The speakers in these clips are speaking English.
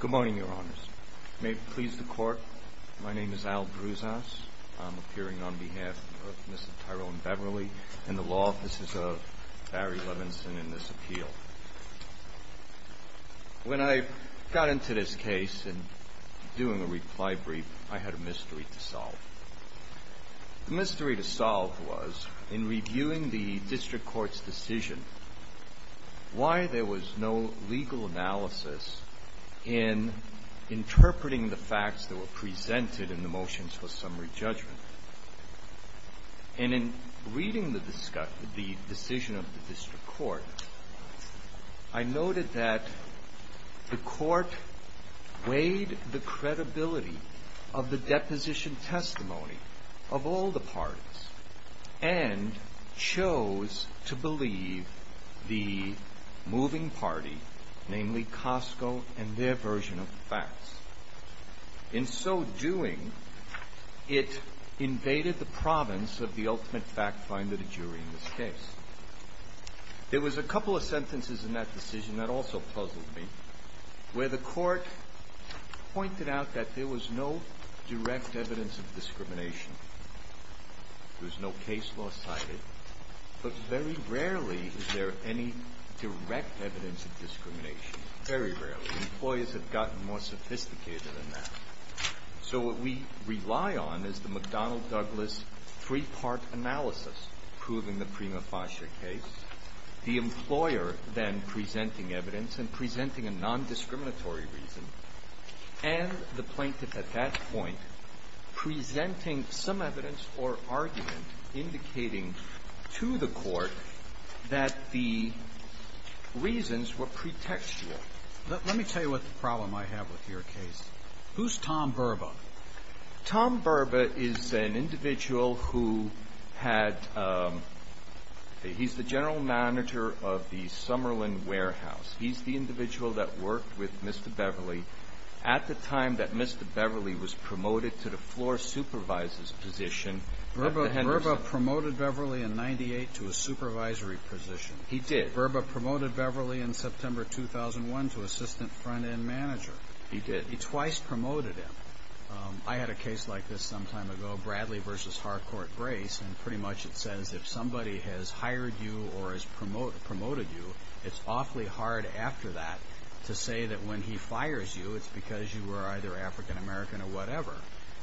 Good morning, Your Honors. May it please the Court, my name is Al Broussants. I'm appearing on behalf of Mrs. Tyrone Beverly in the Law Offices of Barry Levinson in this appeal. When I got into this case and doing a reply brief, I had a mystery to solve. The mystery to solve was, in reviewing the District Court's decision, why there was no legal analysis in interpreting the facts that were presented in the motions for summary judgment. And in reading the decision of the District Court, I noted that the Court weighed the credibility of the deposition testimony of all the parties and chose to believe the moving party, namely Costco and their version of the facts. In so doing, it invaded the province of the ultimate fact finder, the jury, in this case. There was a couple of sentences in that decision that also puzzled me, where the Court pointed out that there was no direct evidence of discrimination. There was no case law cited. But very rarely is there any direct evidence of discrimination, very rarely. Employers have gotten more sophisticated than that. So what we rely on is the McDonnell-Douglas three-part analysis proving the Prima Fascia case, the employer then presenting evidence and presenting a nondiscriminatory reason, and the plaintiff at that point presenting some evidence or argument indicating to the Court that the reasons were pretextual. Let me tell you what the problem I have with your case. Who's Tom Berba? Tom Berba is an individual who had – he's the general manager of the Summerlin Warehouse. He's the individual that worked with Mr. Beverly at the time that Mr. Beverly was promoted to the floor supervisor's position at the Henderson. Berba promoted Beverly in 98 to a supervisory position. He did. And Berba promoted Beverly in September 2001 to assistant front-end manager. He did. He twice promoted him. I had a case like this some time ago, Bradley v. Harcourt Grace, and pretty much it says if somebody has hired you or has promoted you, it's awfully hard after that to say that when he fires you, it's because you were either African American or whatever.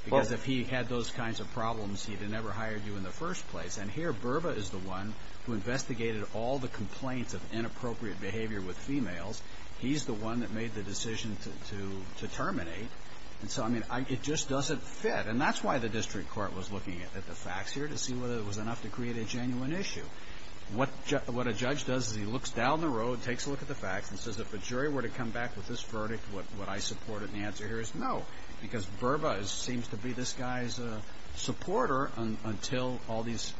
Because if he had those kinds of problems, he'd have never hired you in the first place. And here Berba is the one who investigated all the complaints of inappropriate behavior with females. He's the one that made the decision to terminate. And so, I mean, it just doesn't fit. And that's why the district court was looking at the facts here to see whether it was enough to create a genuine issue. What a judge does is he looks down the road, takes a look at the facts, and says if a jury were to come back with this verdict, would I support it? And the answer here is no, because Berba seems to be this guy's supporter until all these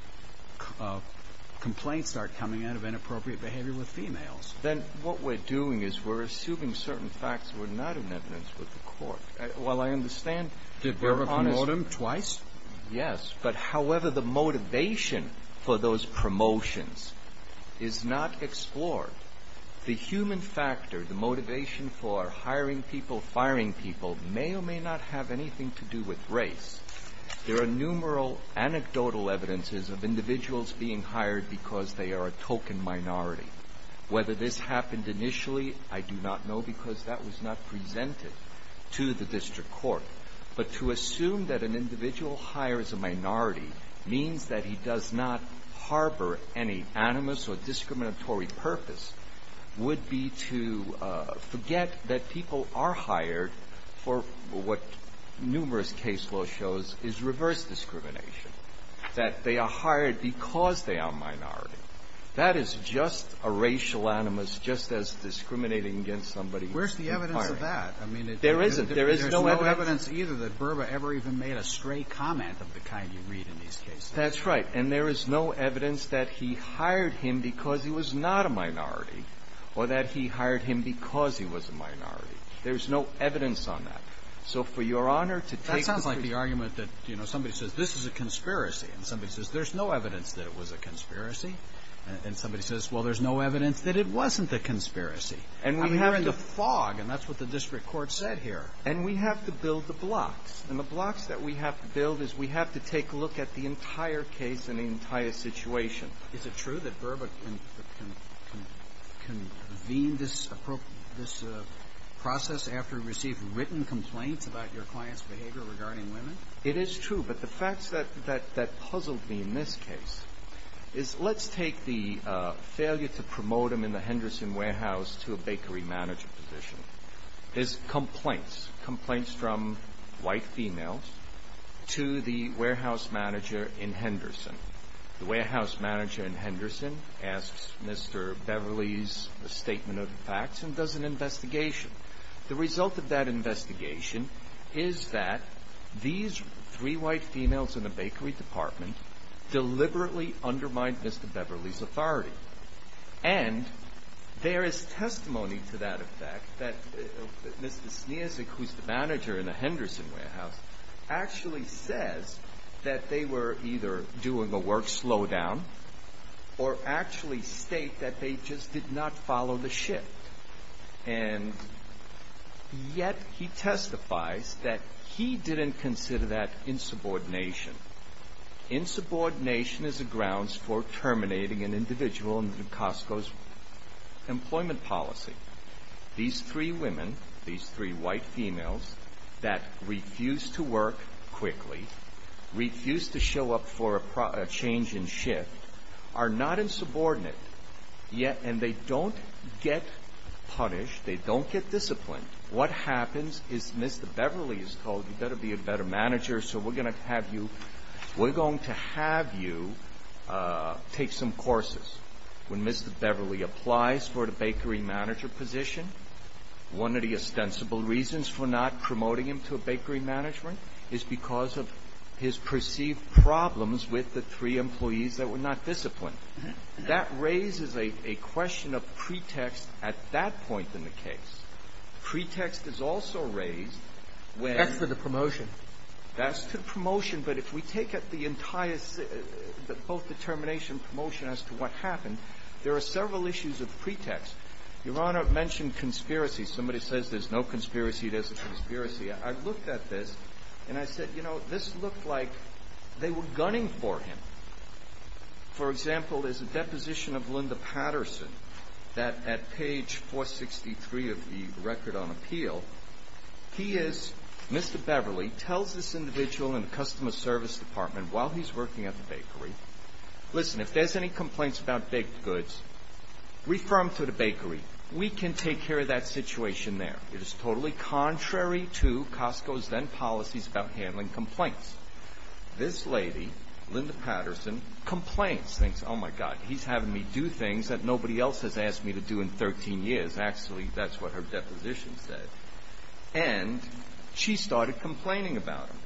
complaints start coming in of inappropriate behavior with females. Then what we're doing is we're assuming certain facts were not in evidence with the court. Well, I understand Berba promoted him twice. Yes, but however the motivation for those promotions is not explored. The human factor, the motivation for hiring people, firing people, may or may not have anything to do with race. There are numeral anecdotal evidences of individuals being hired because they are a token minority. Whether this happened initially, I do not know because that was not presented to the district court. But to assume that an individual hires a minority means that he does not harbor any animus or discriminatory purpose would be to forget that people are hired for what numerous case law shows is reverse discrimination, that they are hired because they are a minority. That is just a racial animus, just as discriminating against somebody who is hiring. Where's the evidence of that? There isn't. There is no evidence either that Berba ever even made a stray comment of the kind you read in these cases. That's right. And there is no evidence that he hired him because he was not a minority or that he hired him because he was a minority. There's no evidence on that. So for Your Honor to take the case. That sounds like the argument that, you know, somebody says, this is a conspiracy. And somebody says, there's no evidence that it was a conspiracy. And somebody says, well, there's no evidence that it wasn't a conspiracy. I mean, we're in the fog, and that's what the district court said here. And we have to build the blocks. And the blocks that we have to build is we have to take a look at the entire case and the entire situation. Is it true that Berba can convene this process after receiving written complaints about your client's behavior regarding women? It is true. But the facts that puzzled me in this case is let's take the failure to promote him in the Henderson warehouse to a bakery manager position. There's complaints, complaints from white females to the warehouse manager in Henderson. The warehouse manager in Henderson asks Mr. Beverly's statement of facts and does an investigation. The result of that investigation is that these three white females in the bakery department deliberately undermined Mr. Beverly's authority. And there is testimony to that effect that Mr. Sneersick, who's the manager in the Henderson warehouse, actually says that they were either doing a work slowdown or actually state that they just did not follow the shift. And yet he testifies that he didn't consider that insubordination. Insubordination is a grounds for terminating an individual in the Costco's employment policy. These three women, these three white females that refused to work quickly, refused to show up for a change in shift, are not insubordinate yet and they don't get punished, they don't get disciplined. What happens is Mr. Beverly is told you better be a better manager so we're going to have you, we're going to have you take some courses. When Mr. Beverly applies for the bakery manager position, one of the ostensible reasons for not promoting him to a bakery management is because of his perceived problems with the three employees that were not disciplined. That raises a question of pretext at that point in the case. Pretext is also raised when — That's to the promotion. That's to the promotion. But if we take up the entire both determination and promotion as to what happened, there are several issues of pretext. Your Honor mentioned conspiracy. Somebody says there's no conspiracy, there's a conspiracy. I looked at this and I said, you know, this looked like they were gunning for him. For example, there's a deposition of Linda Patterson that at page 463 of the record on appeal, he is — Mr. Beverly tells this individual in the customer service department while he's working at the bakery, listen, if there's any complaints about baked goods, refer him to the bakery. We can take care of that situation there. It is totally contrary to Costco's then policies about handling complaints. This lady, Linda Patterson, complains, thinks, oh, my God, he's having me do things that nobody else has asked me to do in 13 years. Actually, that's what her deposition said. And she started complaining about him.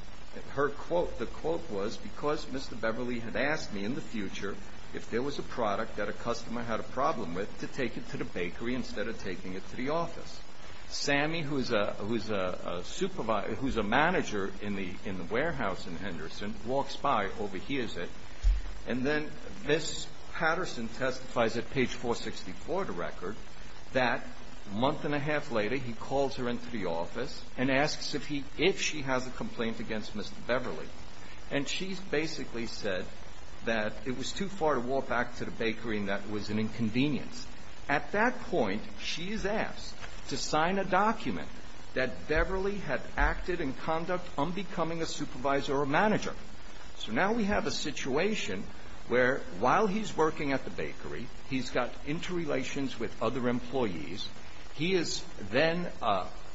Her quote, the quote was, because Mr. Beverly had asked me in the future if there was a product that a customer had a problem with to take it to the bakery instead of taking it to the office. Sammy, who's a supervisor, who's a manager in the warehouse in Henderson, walks by, overhears it, and then Ms. Patterson testifies at page 464 of the record that a month and a half later he calls her into the office and asks if he, if she has a complaint against Mr. Beverly. And she's basically said that it was too far to walk back to the bakery and that was an inconvenience. At that point, she is asked to sign a document that Beverly had acted in conduct unbecoming a supervisor or a manager. So now we have a situation where while he's working at the bakery, he's got interrelations with other employees. He is then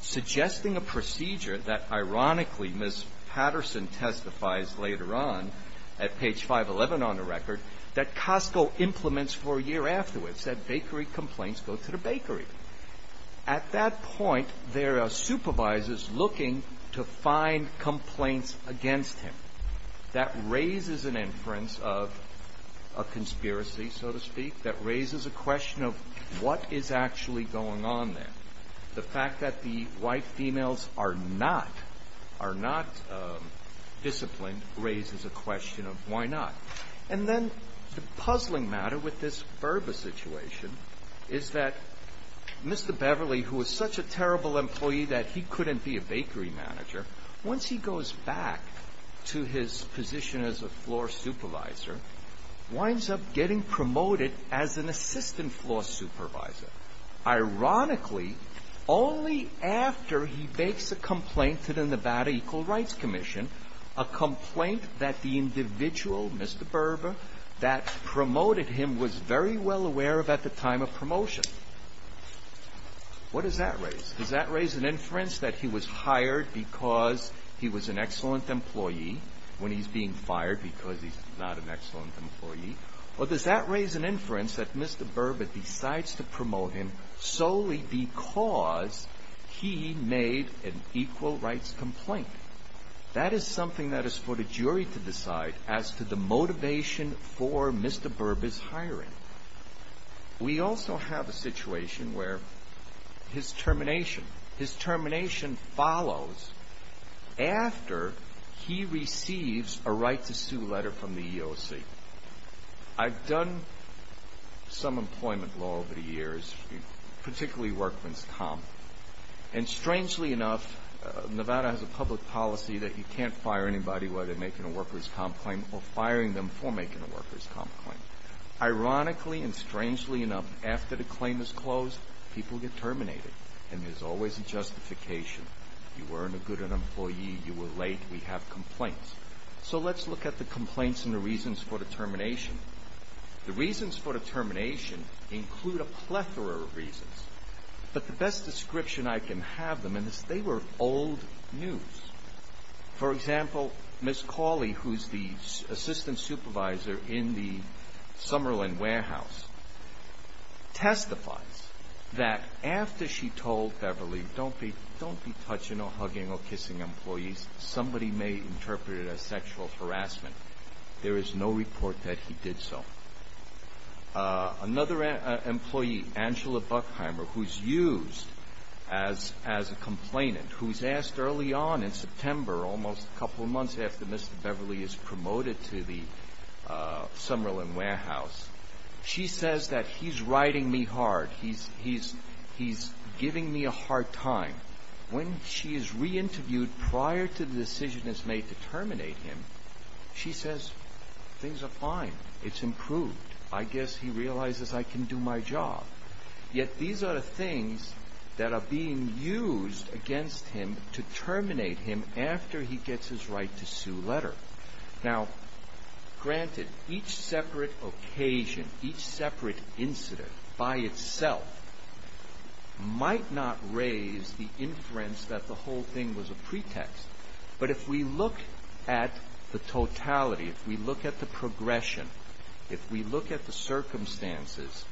suggesting a procedure that ironically Ms. Patterson testifies later on at page 511 on the record that Costco implements for a year afterwards, that bakery complaints go to the bakery. At that point, there are supervisors looking to find complaints against him. That raises an inference of a conspiracy, so to speak, that raises a question of what is actually going on there. The fact that the white females are not disciplined raises a question of why not. And then the puzzling matter with this Burba situation is that Mr. Beverly, who is such a terrible employee that he couldn't be a bakery manager, once he goes back to his position as a floor supervisor, winds up getting promoted as an assistant floor supervisor. Ironically, only after he makes a complaint to the Nevada Equal Rights Commission, a complaint that the individual, Mr. Burba, that promoted him was very well aware of at the time of promotion. What does that raise? Does that raise an inference that he was hired because he was an excellent employee when he's being fired because he's not an excellent employee? Or does that raise an inference that Mr. Burba decides to promote him solely because he made an equal rights complaint? That is something that is for the jury to decide as to the motivation for Mr. Burba's hiring. We also have a situation where his termination follows after he receives a right to sue letter from the EEOC. I've done some employment law over the years, particularly workman's comp. And strangely enough, Nevada has a public policy that you can't fire anybody while they're making a worker's comp claim or firing them for making a worker's comp claim. Ironically and strangely enough, after the claim is closed, people get terminated. And there's always a justification. You weren't a good employee. You were late. We have complaints. So let's look at the complaints and the reasons for the termination. The reasons for the termination include a plethora of reasons. But the best description I can have of them is they were old news. For example, Ms. Cawley, who's the assistant supervisor in the Summerlin Warehouse, testifies that after she told Beverly, don't be touching or hugging or kissing employees. Somebody may interpret it as sexual harassment. There is no report that he did so. Another employee, Angela Buckheimer, who's used as a complainant, who's asked early on in September, almost a couple of months after Mr. Beverly is promoted to the Summerlin Warehouse, she says that he's riding me hard. He's giving me a hard time. When she is reinterviewed prior to the decision is made to terminate him, she says, things are fine. It's improved. I guess he realizes I can do my job. Yet these are the things that are being used against him to terminate him after he gets his right to sue letter. Now, granted, each separate occasion, each separate incident by itself might not raise the inference that the whole thing was a pretext. But if we look at the totality, if we look at the progression, if we look at the circumstances,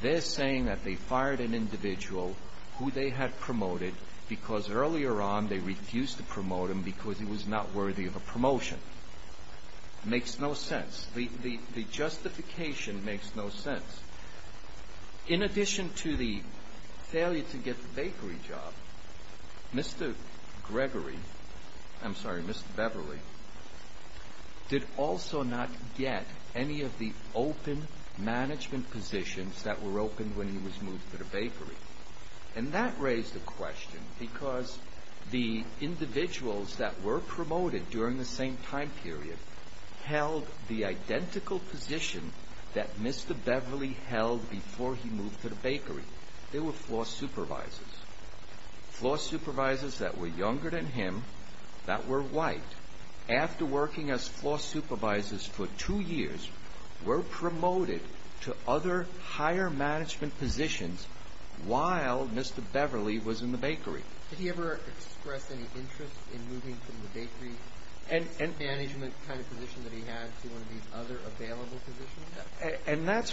they're saying that they fired an individual who they had promoted because earlier on they refused to promote him because he was not worthy of a promotion. Makes no sense. The justification makes no sense. In addition to the failure to get the bakery job, Mr. Gregory, I'm sorry, Mr. Beverly, did also not get any of the open management positions that were open when he was moved to the bakery. And that raised a question because the individuals that were promoted during the same time period held the identical position that Mr. Beverly held before he moved to the bakery. They were floor supervisors, floor supervisors that were younger than him, that were white. After working as floor supervisors for two years, were promoted to other higher management positions while Mr. Beverly was in the bakery. Did he ever express any interest in moving from the bakery management kind of position that he had to one of these other available positions? I'm not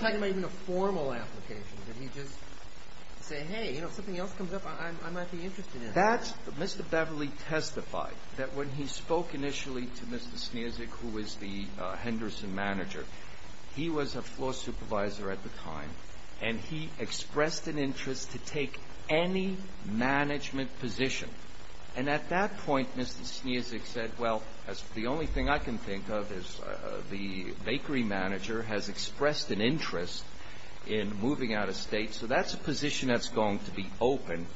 talking about even a formal application. Did he just say, hey, if something else comes up, I might be interested in it? Mr. Beverly testified that when he spoke initially to Mr. Sneerzyk, who was the Henderson manager, he was a floor supervisor at the time, and he expressed an interest to take any management position. And at that point, Mr. Sneerzyk said, well, that's the only thing I can think of is the bakery manager has expressed an interest in moving out of state, so that's a position that's going to be open.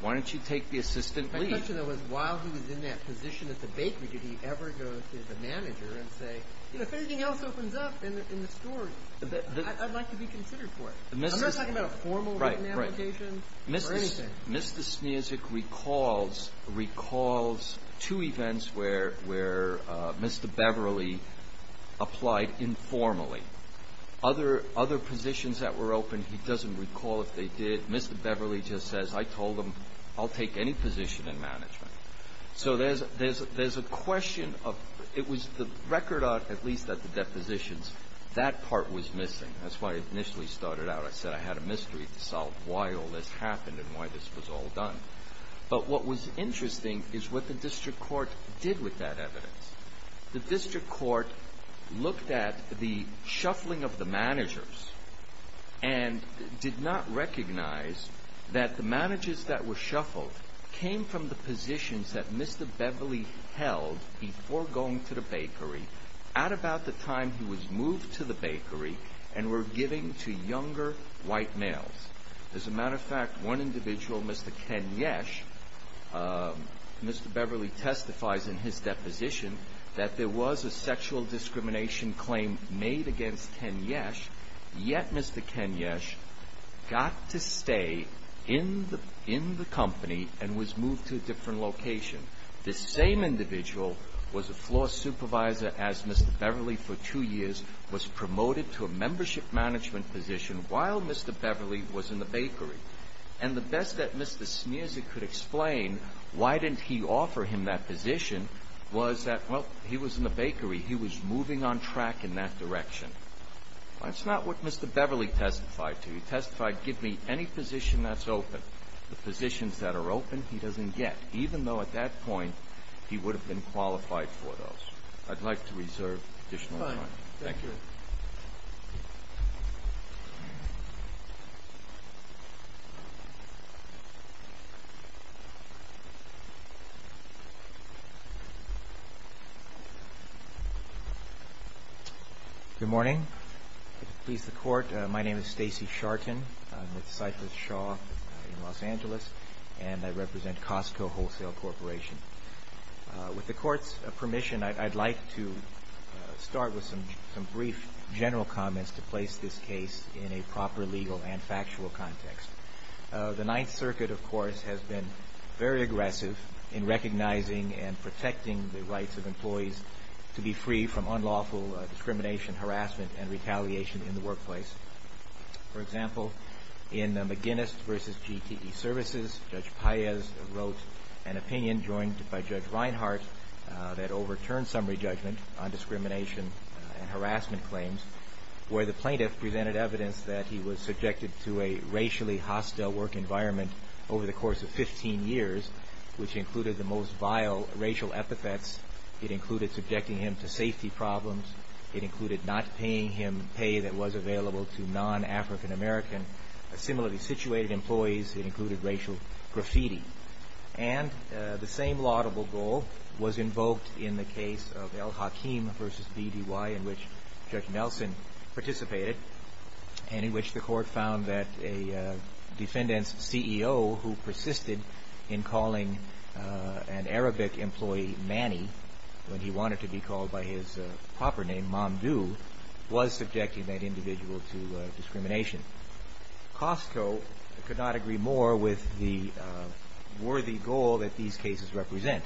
Why don't you take the assistant lead? My question, though, was while he was in that position at the bakery, did he ever go to the manager and say, if anything else opens up in the story, I'd like to be considered for it? I'm not talking about a formal written application or anything. Mr. Sneerzyk recalls two events where Mr. Beverly applied informally. Other positions that were open, he doesn't recall if they did. Mr. Beverly just says, I told him, I'll take any position in management. So there's a question of it was the record, at least at the depositions, that part was missing. That's why I initially started out. I said I had a mystery to solve why all this happened and why this was all done. But what was interesting is what the district court did with that evidence. The district court looked at the shuffling of the managers and did not recognize that the managers that were shuffled came from the positions that Mr. Beverly held before going to the bakery at about the time he was moved to the bakery and were giving to younger white males. As a matter of fact, one individual, Mr. Ken Yesh, Mr. Beverly testifies in his deposition that there was a sexual discrimination claim made against Ken Yesh, yet Mr. Ken Yesh got to stay in the company and was moved to a different location. This same individual was a floor supervisor as Mr. Beverly for two years, was promoted to a membership management position while Mr. Beverly was in the bakery. And the best that Mr. Smearzy could explain, why didn't he offer him that position, was that, well, he was in the bakery. He was moving on track in that direction. That's not what Mr. Beverly testified to. He testified, give me any position that's open. The positions that are open he doesn't get, even though at that point he would have been qualified for those. I'd like to reserve additional time. Thank you. Thank you. Good morning. Please support. My name is Stacy Sharton. I'm with Cypress Shaw in Los Angeles, and I represent Costco Wholesale Corporation. With the Court's permission, I'd like to start with some brief general comments to place this case in a proper legal and factual context. The Ninth Circuit, of course, has been very aggressive in recognizing and protecting the rights of employees to be free from unlawful discrimination, harassment, and retaliation in the workplace. For example, in McGinnis v. GTE Services, Judge Paez wrote an opinion joined by Judge Reinhart that overturned summary judgment on discrimination and harassment claims, where the plaintiff presented evidence that he was subjected to a racially hostile work environment over the course of 15 years, which included the most vile racial epithets. It included subjecting him to safety problems. It included not paying him pay that was available to non-African American similarly situated employees. It included racial graffiti. And the same laudable goal was invoked in the case of El-Hakim v. BDY, in which Judge Nelson participated, and in which the Court found that a defendant's CEO, who persisted in calling an Arabic employee Manny when he wanted to be called by his proper name, Mamdouh, was subjecting that individual to discrimination. Costco could not agree more with the worthy goal that these cases represent.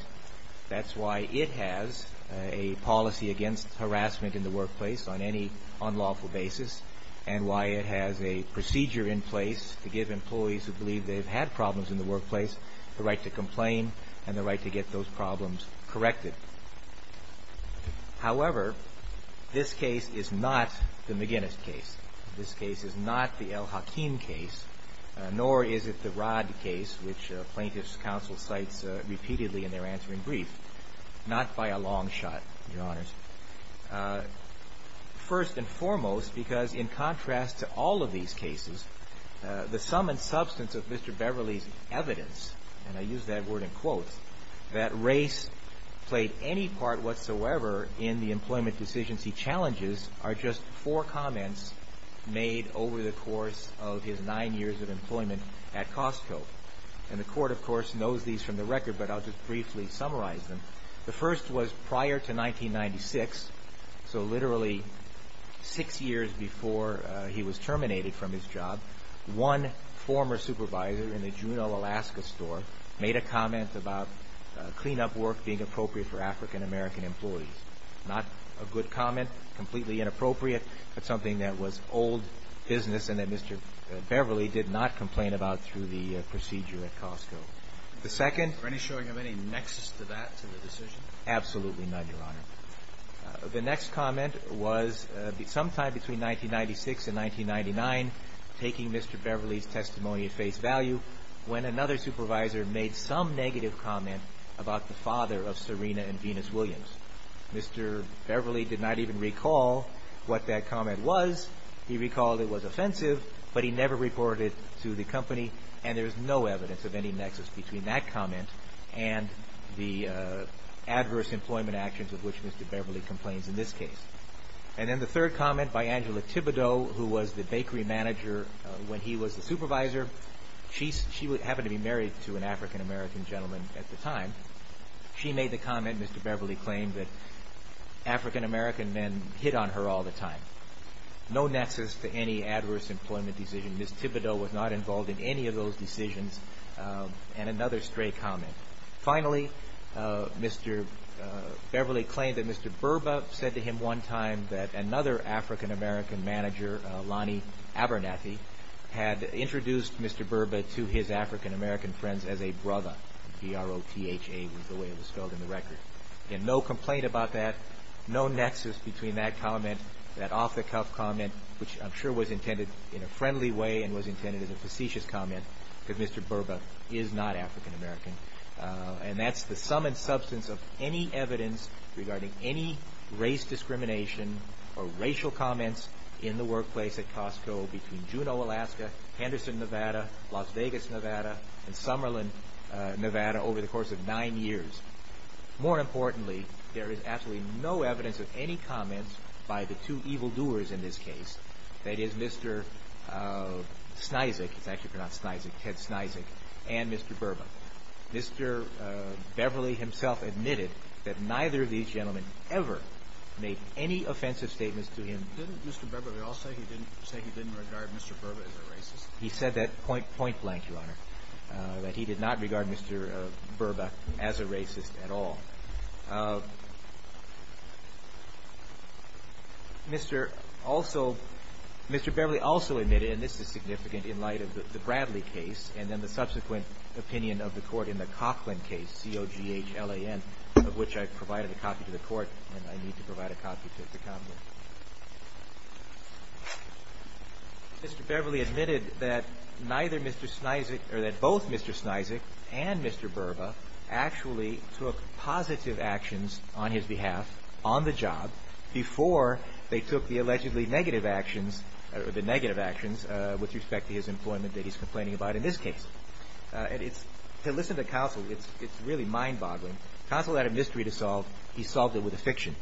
That's why it has a policy against harassment in the workplace on any unlawful basis, and why it has a procedure in place to give employees who believe they've had problems in the workplace the right to complain and the right to get those problems corrected. However, this case is not the McGinnis case. This case is not the El-Hakim case, nor is it the Rod case, which plaintiffs' counsel cites repeatedly in their answering brief. Not by a long shot, Your Honors. First and foremost, because in contrast to all of these cases, the sum and substance of Mr. Beverly's evidence, and I use that word in quotes, that race played any part whatsoever in the employment decisions he challenges are just four comments made over the course of his nine years of employment at Costco. And the Court, of course, knows these from the record, but I'll just briefly summarize them. The first was prior to 1996, so literally six years before he was terminated from his job, one former supervisor in the Juneau, Alaska store made a comment about cleanup work being appropriate for African-American employees. Not a good comment, completely inappropriate, but something that was old business and that Mr. Beverly did not complain about through the procedure at Costco. The second? Were any showing of any nexus to that, to the decision? Absolutely not, Your Honor. The next comment was sometime between 1996 and 1999, taking Mr. Beverly's testimony at face value, when another supervisor made some negative comment about the father of Serena and Venus Williams. Mr. Beverly did not even recall what that comment was. He recalled it was offensive, but he never reported it to the company, and there is no evidence of any nexus between that comment and the adverse employment actions with which Mr. Beverly complains in this case. And then the third comment by Angela Thibodeau, who was the bakery manager when he was the supervisor. She happened to be married to an African-American gentleman at the time. She made the comment, Mr. Beverly claimed, that African-American men hit on her all the time. No nexus to any adverse employment decision. Ms. Thibodeau was not involved in any of those decisions, and another stray comment. Finally, Mr. Beverly claimed that Mr. Burba said to him one time that another African-American manager, Lonnie Abernathy, had introduced Mr. Burba to his African-American friends as a brother. B-R-O-T-H-A was the way it was spelled in the record. Again, no complaint about that. No nexus between that comment, that off-the-cuff comment, which I'm sure was intended in a friendly way and was intended as a facetious comment, because Mr. Burba is not African-American. And that's the sum and substance of any evidence regarding any race discrimination or racial comments in the workplace at Costco between Juneau, Alaska, Henderson, Nevada, Las Vegas, Nevada, and Summerlin, Nevada, over the course of nine years. More importantly, there is absolutely no evidence of any comments by the two evildoers in this case, that is, Mr. Snyzik, it's actually pronounced Snyzik, Ted Snyzik, and Mr. Burba. Mr. Beverly himself admitted that neither of these gentlemen ever made any offensive statements to him. Didn't Mr. Beverly also say he didn't regard Mr. Burba as a racist? He said that point-blank, Your Honor, that he did not regard Mr. Burba as a racist at all. Mr. Beverly also admitted, and this is significant in light of the Bradley case and then the subsequent opinion of the Court in the Coughlin case, C-O-G-H-L-A-N, of which I provided a copy to the Court and I need to provide a copy to the Coughlin. Mr. Beverly admitted that neither Mr. Snyzik, or that both Mr. Snyzik and Mr. Burba actually took positive actions on his behalf, on the job, before they took the allegedly negative actions with respect to his employment that he's complaining about in this case. To listen to Counsel, it's really mind-boggling. Counsel had a mystery to solve. He solved it with a fiction.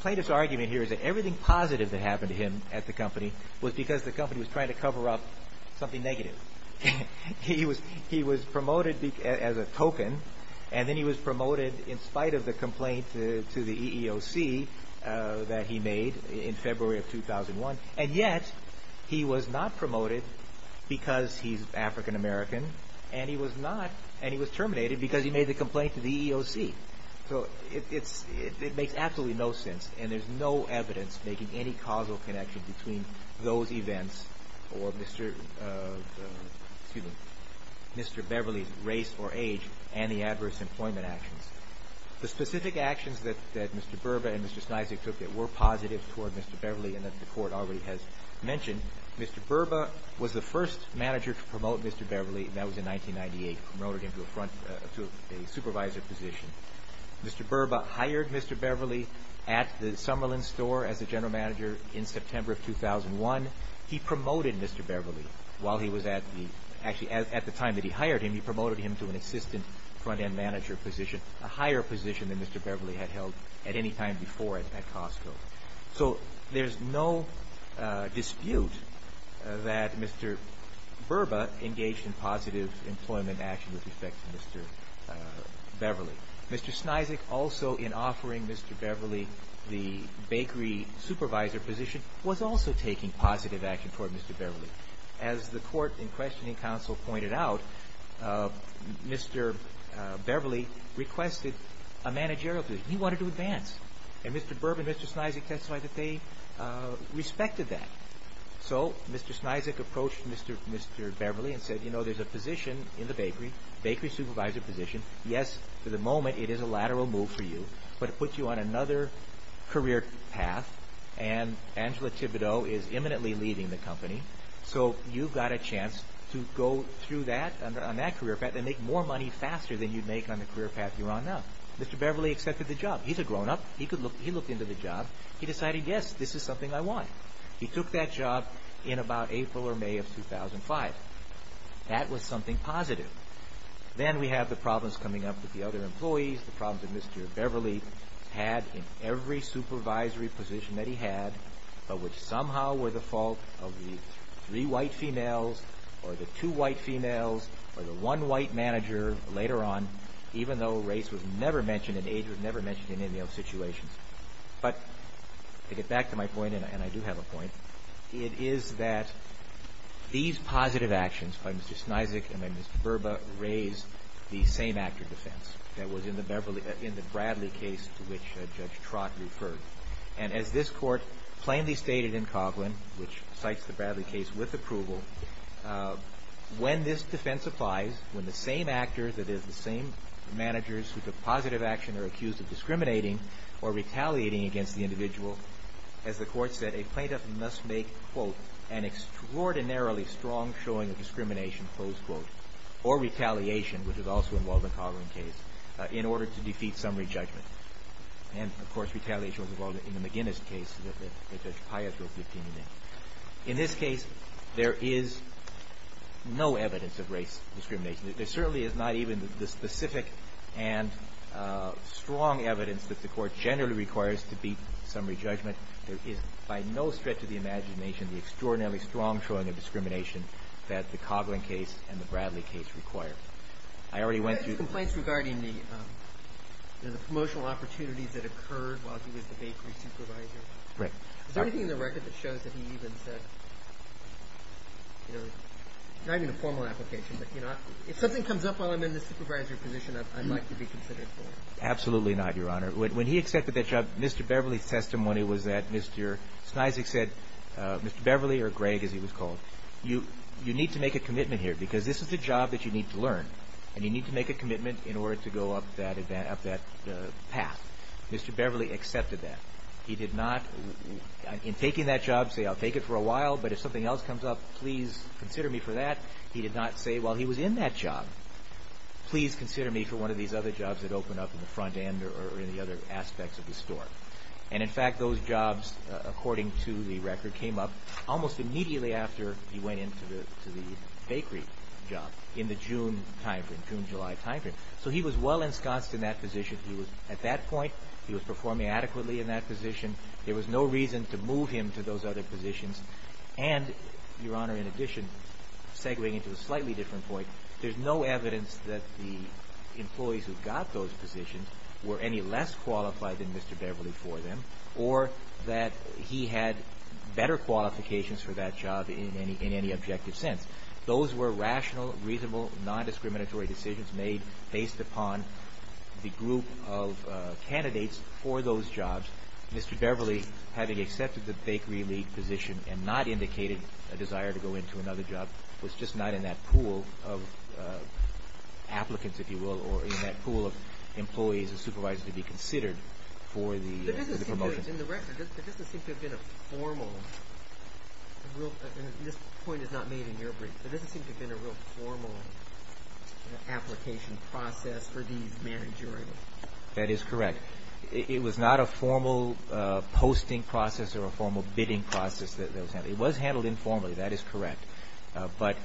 Plaintiff's argument here is that everything positive that happened to him at the company was because the company was trying to cover up something negative. He was promoted as a token, and then he was promoted in spite of the complaint to the EEOC that he made in February of 2001. And yet, he was not promoted because he's African American, and he was terminated because he made the complaint to the EEOC. So it makes absolutely no sense, and there's no evidence making any causal connection between those events or Mr. Beverly's race or age and the adverse employment actions. The specific actions that Mr. Burba and Mr. Snyzik took that were positive toward Mr. Beverly and that the Court already has mentioned, Mr. Burba was the first manager to promote Mr. Beverly, and that was in 1998, promoted him to a supervisor position. Mr. Burba hired Mr. Beverly at the Summerlin store as the general manager in September of 2001. He promoted Mr. Beverly while he was at the – actually, at the time that he hired him, he promoted him to an assistant front-end manager position, a higher position than Mr. Beverly had held at any time before at Costco. So there's no dispute that Mr. Burba engaged in positive employment action with respect to Mr. Beverly. Mr. Snyzik also, in offering Mr. Beverly the bakery supervisor position, was also taking positive action toward Mr. Beverly. As the Court in questioning counsel pointed out, Mr. Beverly requested a managerial position. He wanted to advance, and Mr. Burba and Mr. Snyzik testified that they respected that. So Mr. Snyzik approached Mr. Beverly and said, you know, there's a position in the bakery, bakery supervisor position, yes, for the moment it is a lateral move for you, but it puts you on another career path, and Angela Thibodeau is imminently leaving the company, so you've got a chance to go through that, on that career path, and make more money faster than you'd make on the career path you're on now. Mr. Beverly accepted the job. He's a grown-up. He looked into the job. He decided, yes, this is something I want. He took that job in about April or May of 2005. That was something positive. Then we have the problems coming up with the other employees, the problems that Mr. Beverly had in every supervisory position that he had, but which somehow were the fault of the three white females, or the two white females, or the one white manager later on, even though race was never mentioned and age was never mentioned in any of those situations. But to get back to my point, and I do have a point, it is that these positive actions by Mr. Snyzik and by Mr. Berba raised the same actor defense that was in the Bradley case to which Judge Trott referred. And as this Court plainly stated in Coghlan, which cites the Bradley case with approval, when this defense applies, when the same actor, that is, the same managers who took positive action are accused of discriminating or retaliating against the individual, as the Court said, a plaintiff must make, quote, an extraordinarily strong showing of discrimination, close quote, or retaliation, which is also involved in Coghlan's case, in order to defeat summary judgment. And, of course, retaliation was involved in the McGinnis case that Judge Pius wrote the opinion in. In this case, there is no evidence of race discrimination. There certainly is not even the specific and strong evidence that the Court generally requires to beat summary judgment. There is, by no stretch of the imagination, the extraordinarily strong showing of discrimination that the Coghlan case and the Bradley case require. I already went through the ---- The complaints regarding the promotional opportunities that occurred while he was the bakery supervisor. Right. Is there anything in the record that shows that he even said, you know, not even a formal application, but, you know, if something comes up while I'm in the supervisory position, I'd like to be considered for it. Absolutely not, Your Honor. When he accepted that job, Mr. Beverly's testimony was that Mr. Snizek said, Mr. Beverly, or Greg, as he was called, you need to make a commitment here, because this is a job that you need to learn, and you need to make a commitment in order to go up that path. Mr. Beverly accepted that. He did not, in taking that job, say, I'll take it for a while, but if something else comes up, please consider me for that. He did not say, while he was in that job, please consider me for one of these other jobs that open up in the front end or in the other aspects of the store. And, in fact, those jobs, according to the record, came up almost immediately after he went into the bakery job, in the June time frame, June-July time frame. So he was well ensconced in that position. At that point, he was performing adequately in that position. There was no reason to move him to those other positions. And, Your Honor, in addition, segwaying into a slightly different point, there's no evidence that the employees who got those positions were any less qualified than Mr. Beverly for them or that he had better qualifications for that job in any objective sense. Those were rational, reasonable, non-discriminatory decisions made based upon the group of candidates for those jobs. Mr. Beverly, having accepted the bakery lead position and not indicated a desire to go into another job, was just not in that pool of applicants, if you will, or in that pool of employees and supervisors to be considered for the promotion. But it doesn't seem to have been a formal, and this point is not made in your brief, but it doesn't seem to have been a real formal application process for these managerial positions. That is correct. It was not a formal posting process or a formal bidding process that was handled. It was handled informally. That is correct. But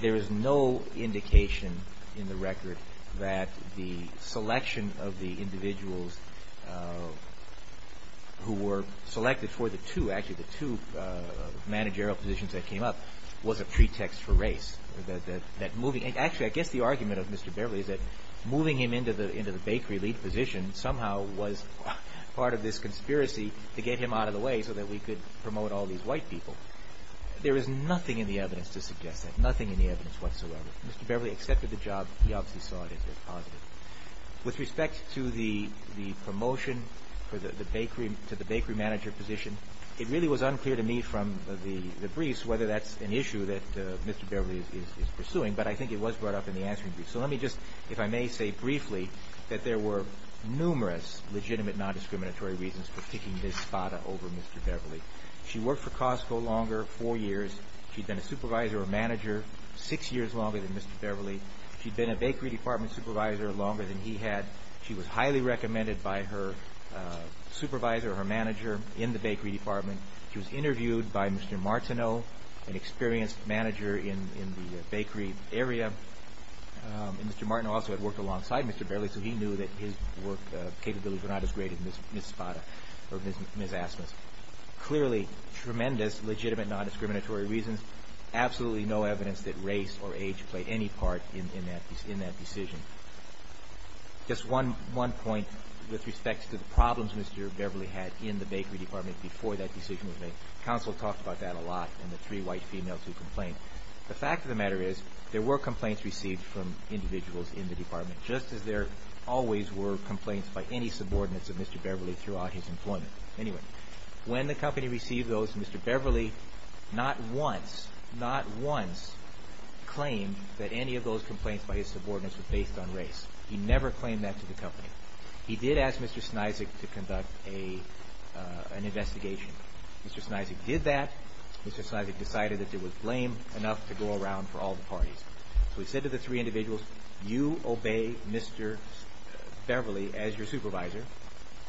there is no indication in the record that the selection of the individuals who were selected for the two, actually the two managerial positions that came up, was a pretext for race. Actually, I guess the argument of Mr. Beverly is that moving him into the bakery lead position somehow was part of this conspiracy to get him out of the way so that we could promote all these white people. There is nothing in the evidence to suggest that, nothing in the evidence whatsoever. Mr. Beverly accepted the job. He obviously saw it as positive. With respect to the promotion to the bakery manager position, it really was unclear to me from the briefs whether that's an issue that Mr. Beverly is pursuing, but I think it was brought up in the answering brief. So let me just, if I may say briefly, that there were numerous legitimate nondiscriminatory reasons for kicking Ms. Spada over Mr. Beverly. She worked for Costco longer, four years. She'd been a supervisor or manager six years longer than Mr. Beverly. She'd been a bakery department supervisor longer than he had. She was highly recommended by her supervisor or her manager in the bakery department. She was interviewed by Mr. Martineau, an experienced manager in the bakery area. Mr. Martineau also had worked alongside Mr. Beverly, so he knew that his work capabilities were not as great as Ms. Spada or Ms. Asmus. Clearly, tremendous legitimate nondiscriminatory reasons. Absolutely no evidence that race or age played any part in that decision. Just one point with respect to the problems Mr. Beverly had in the bakery department before that decision was made. Counsel talked about that a lot and the three white females who complained. The fact of the matter is there were complaints received from individuals in the department, just as there always were complaints by any subordinates of Mr. Beverly throughout his employment. Anyway, when the company received those, Mr. Beverly not once, not once, claimed that any of those complaints by his subordinates were based on race. He never claimed that to the company. He did ask Mr. Snizek to conduct an investigation. Mr. Snizek did that. Mr. Snizek decided that it was lame enough to go around for all the parties. So he said to the three individuals, you obey Mr. Beverly as your supervisor.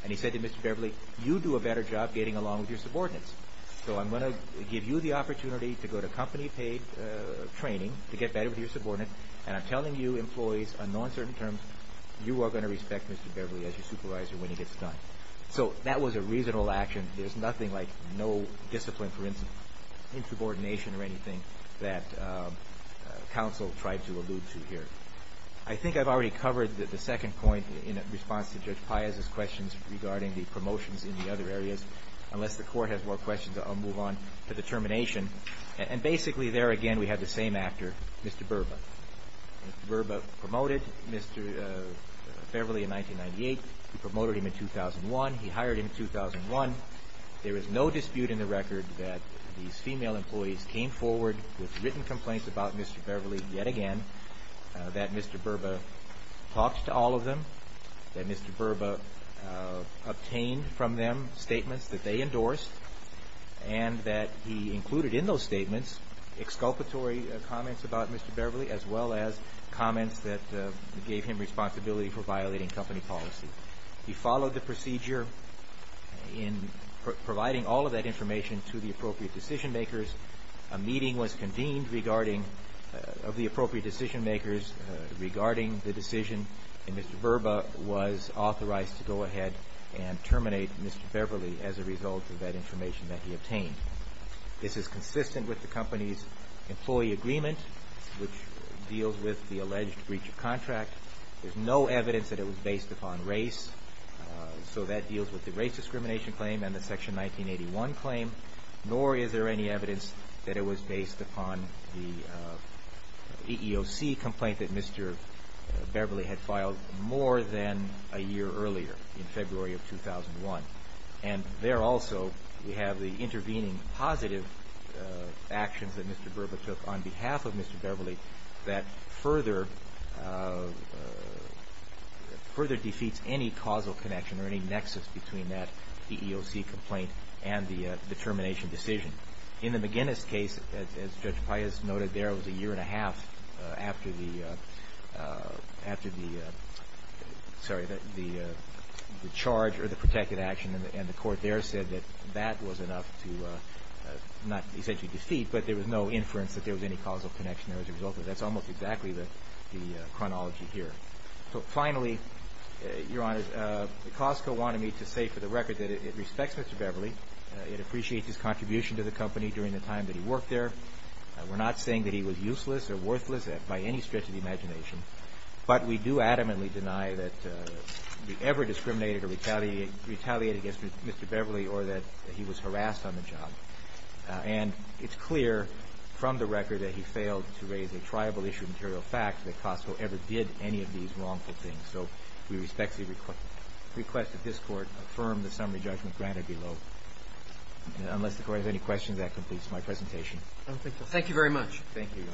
And he said to Mr. Beverly, you do a better job getting along with your subordinates, so I'm going to give you the opportunity to go to company-paid training to get better with your subordinates, and I'm telling you employees on non-certain terms, you are going to respect Mr. Beverly as your supervisor when he gets done. So that was a reasonable action. There's nothing like no discipline for insubordination or anything that counsel tried to allude to here. I think I've already covered the second point in response to Judge Paez's questions regarding the promotions in the other areas. Unless the Court has more questions, I'll move on to the termination. And basically there again we have the same actor, Mr. Berba. Mr. Berba promoted Mr. Beverly in 1998. He promoted him in 2001. He hired him in 2001. There is no dispute in the record that these female employees came forward with written complaints about Mr. Beverly yet again, that Mr. Berba talked to all of them, that Mr. Berba obtained from them statements that they endorsed, and that he included in those statements exculpatory comments about Mr. Beverly as well as comments that gave him responsibility for violating company policy. He followed the procedure in providing all of that information to the appropriate decision-makers. A meeting was convened of the appropriate decision-makers regarding the decision, and Mr. Berba was authorized to go ahead and terminate Mr. Beverly as a result of that information that he obtained. This is consistent with the company's employee agreement, which deals with the alleged breach of contract. There's no evidence that it was based upon race, so that deals with the race discrimination claim and the Section 1981 claim, nor is there any evidence that it was based upon the EEOC complaint that Mr. Beverly had filed more than a year earlier in February of 2001. And there also we have the intervening positive actions that Mr. Berba took on behalf of Mr. Beverly that further defeats any causal connection or any nexus between that EEOC complaint and the termination decision. In the McGinnis case, as Judge Pius noted there, it was a year and a half after the charge or the protected action, and the court there said that that was enough to not essentially defeat, but there was no inference that there was any causal connection there as a result of it. That's almost exactly the chronology here. So finally, Your Honor, Costco wanted me to say for the record that it respects Mr. Beverly. It appreciates his contribution to the company during the time that he worked there. We're not saying that he was useless or worthless by any stretch of the imagination, but we do adamantly deny that we ever discriminated or retaliated against Mr. Beverly or that he was harassed on the job. And it's clear from the record that he failed to raise a triable issue of material fact that Costco ever did any of these wrongful things. So we respectfully request that this Court affirm the summary judgment granted below. Unless the Court has any questions, that completes my presentation. Thank you very much. Thank you, Your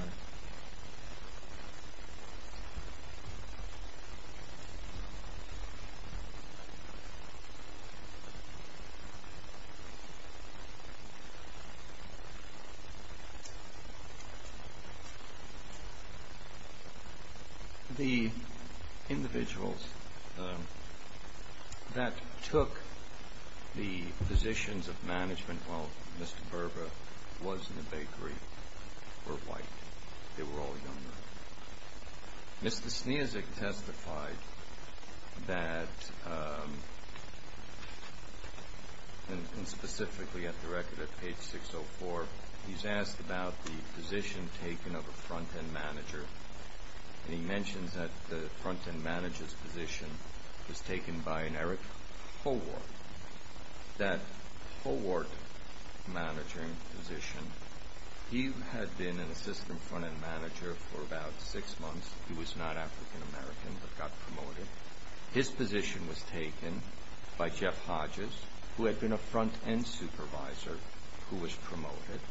Honor. The individuals that took the positions of management while Mr. Berber was in the bakery were white. They were all young men. Mr. Snezek testified that, and specifically at the record at page 604, he's asked about the position taken of a front-end manager. And he mentions that the front-end manager's position was taken by an Eric Howart. That Howart managing position, he had been an assistant front-end manager for about six months. He was not African-American but got promoted. His position was taken by Jeff Hodges, who had been a front-end supervisor, who was promoted,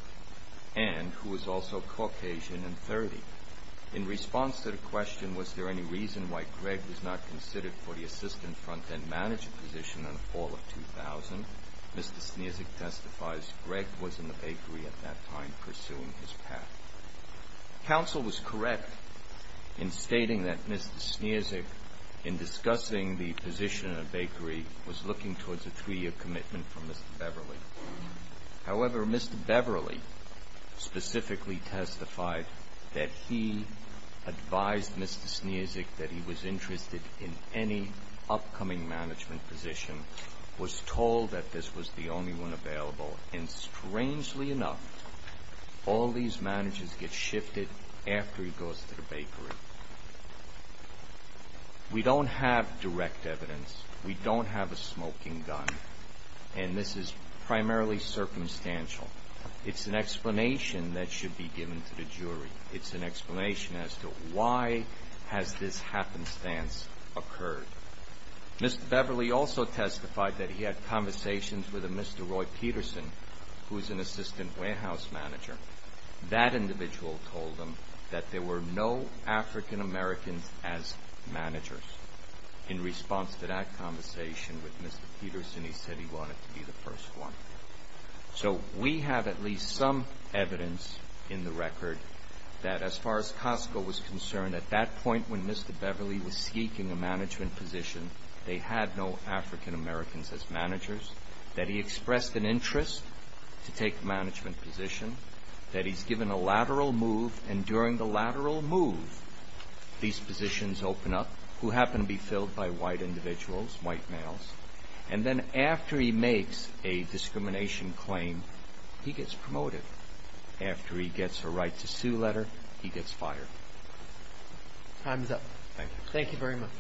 and who was also Caucasian in 30. In response to the question, was there any reason why Greg was not considered for the assistant front-end manager position in the fall of 2000, Mr. Snezek testifies, Greg was in the bakery at that time pursuing his path. Counsel was correct in stating that Mr. Snezek, in discussing the position in a bakery, was looking towards a three-year commitment from Mr. Beverly. However, Mr. Beverly specifically testified that he advised Mr. Snezek that he was interested in any upcoming management position, was told that this was the only one available, and strangely enough, all these managers get shifted after he goes to the bakery. We don't have direct evidence. We don't have a smoking gun, and this is primarily circumstantial. It's an explanation that should be given to the jury. It's an explanation as to why has this happenstance occurred. Mr. Beverly also testified that he had conversations with a Mr. Roy Peterson, who was an assistant warehouse manager. That individual told him that there were no African Americans as managers. In response to that conversation with Mr. Peterson, he said he wanted to be the first one. So we have at least some evidence in the record that as far as Costco was concerned, at that point when Mr. Beverly was seeking a management position, they had no African Americans as managers, that he expressed an interest to take the management position, that he's given a lateral move, and during the lateral move, these positions open up, who happen to be filled by white individuals, white males, and then after he makes a discrimination claim, he gets promoted. After he gets a right to sue letter, he gets fired. Time's up. Thank you. Thank you very much.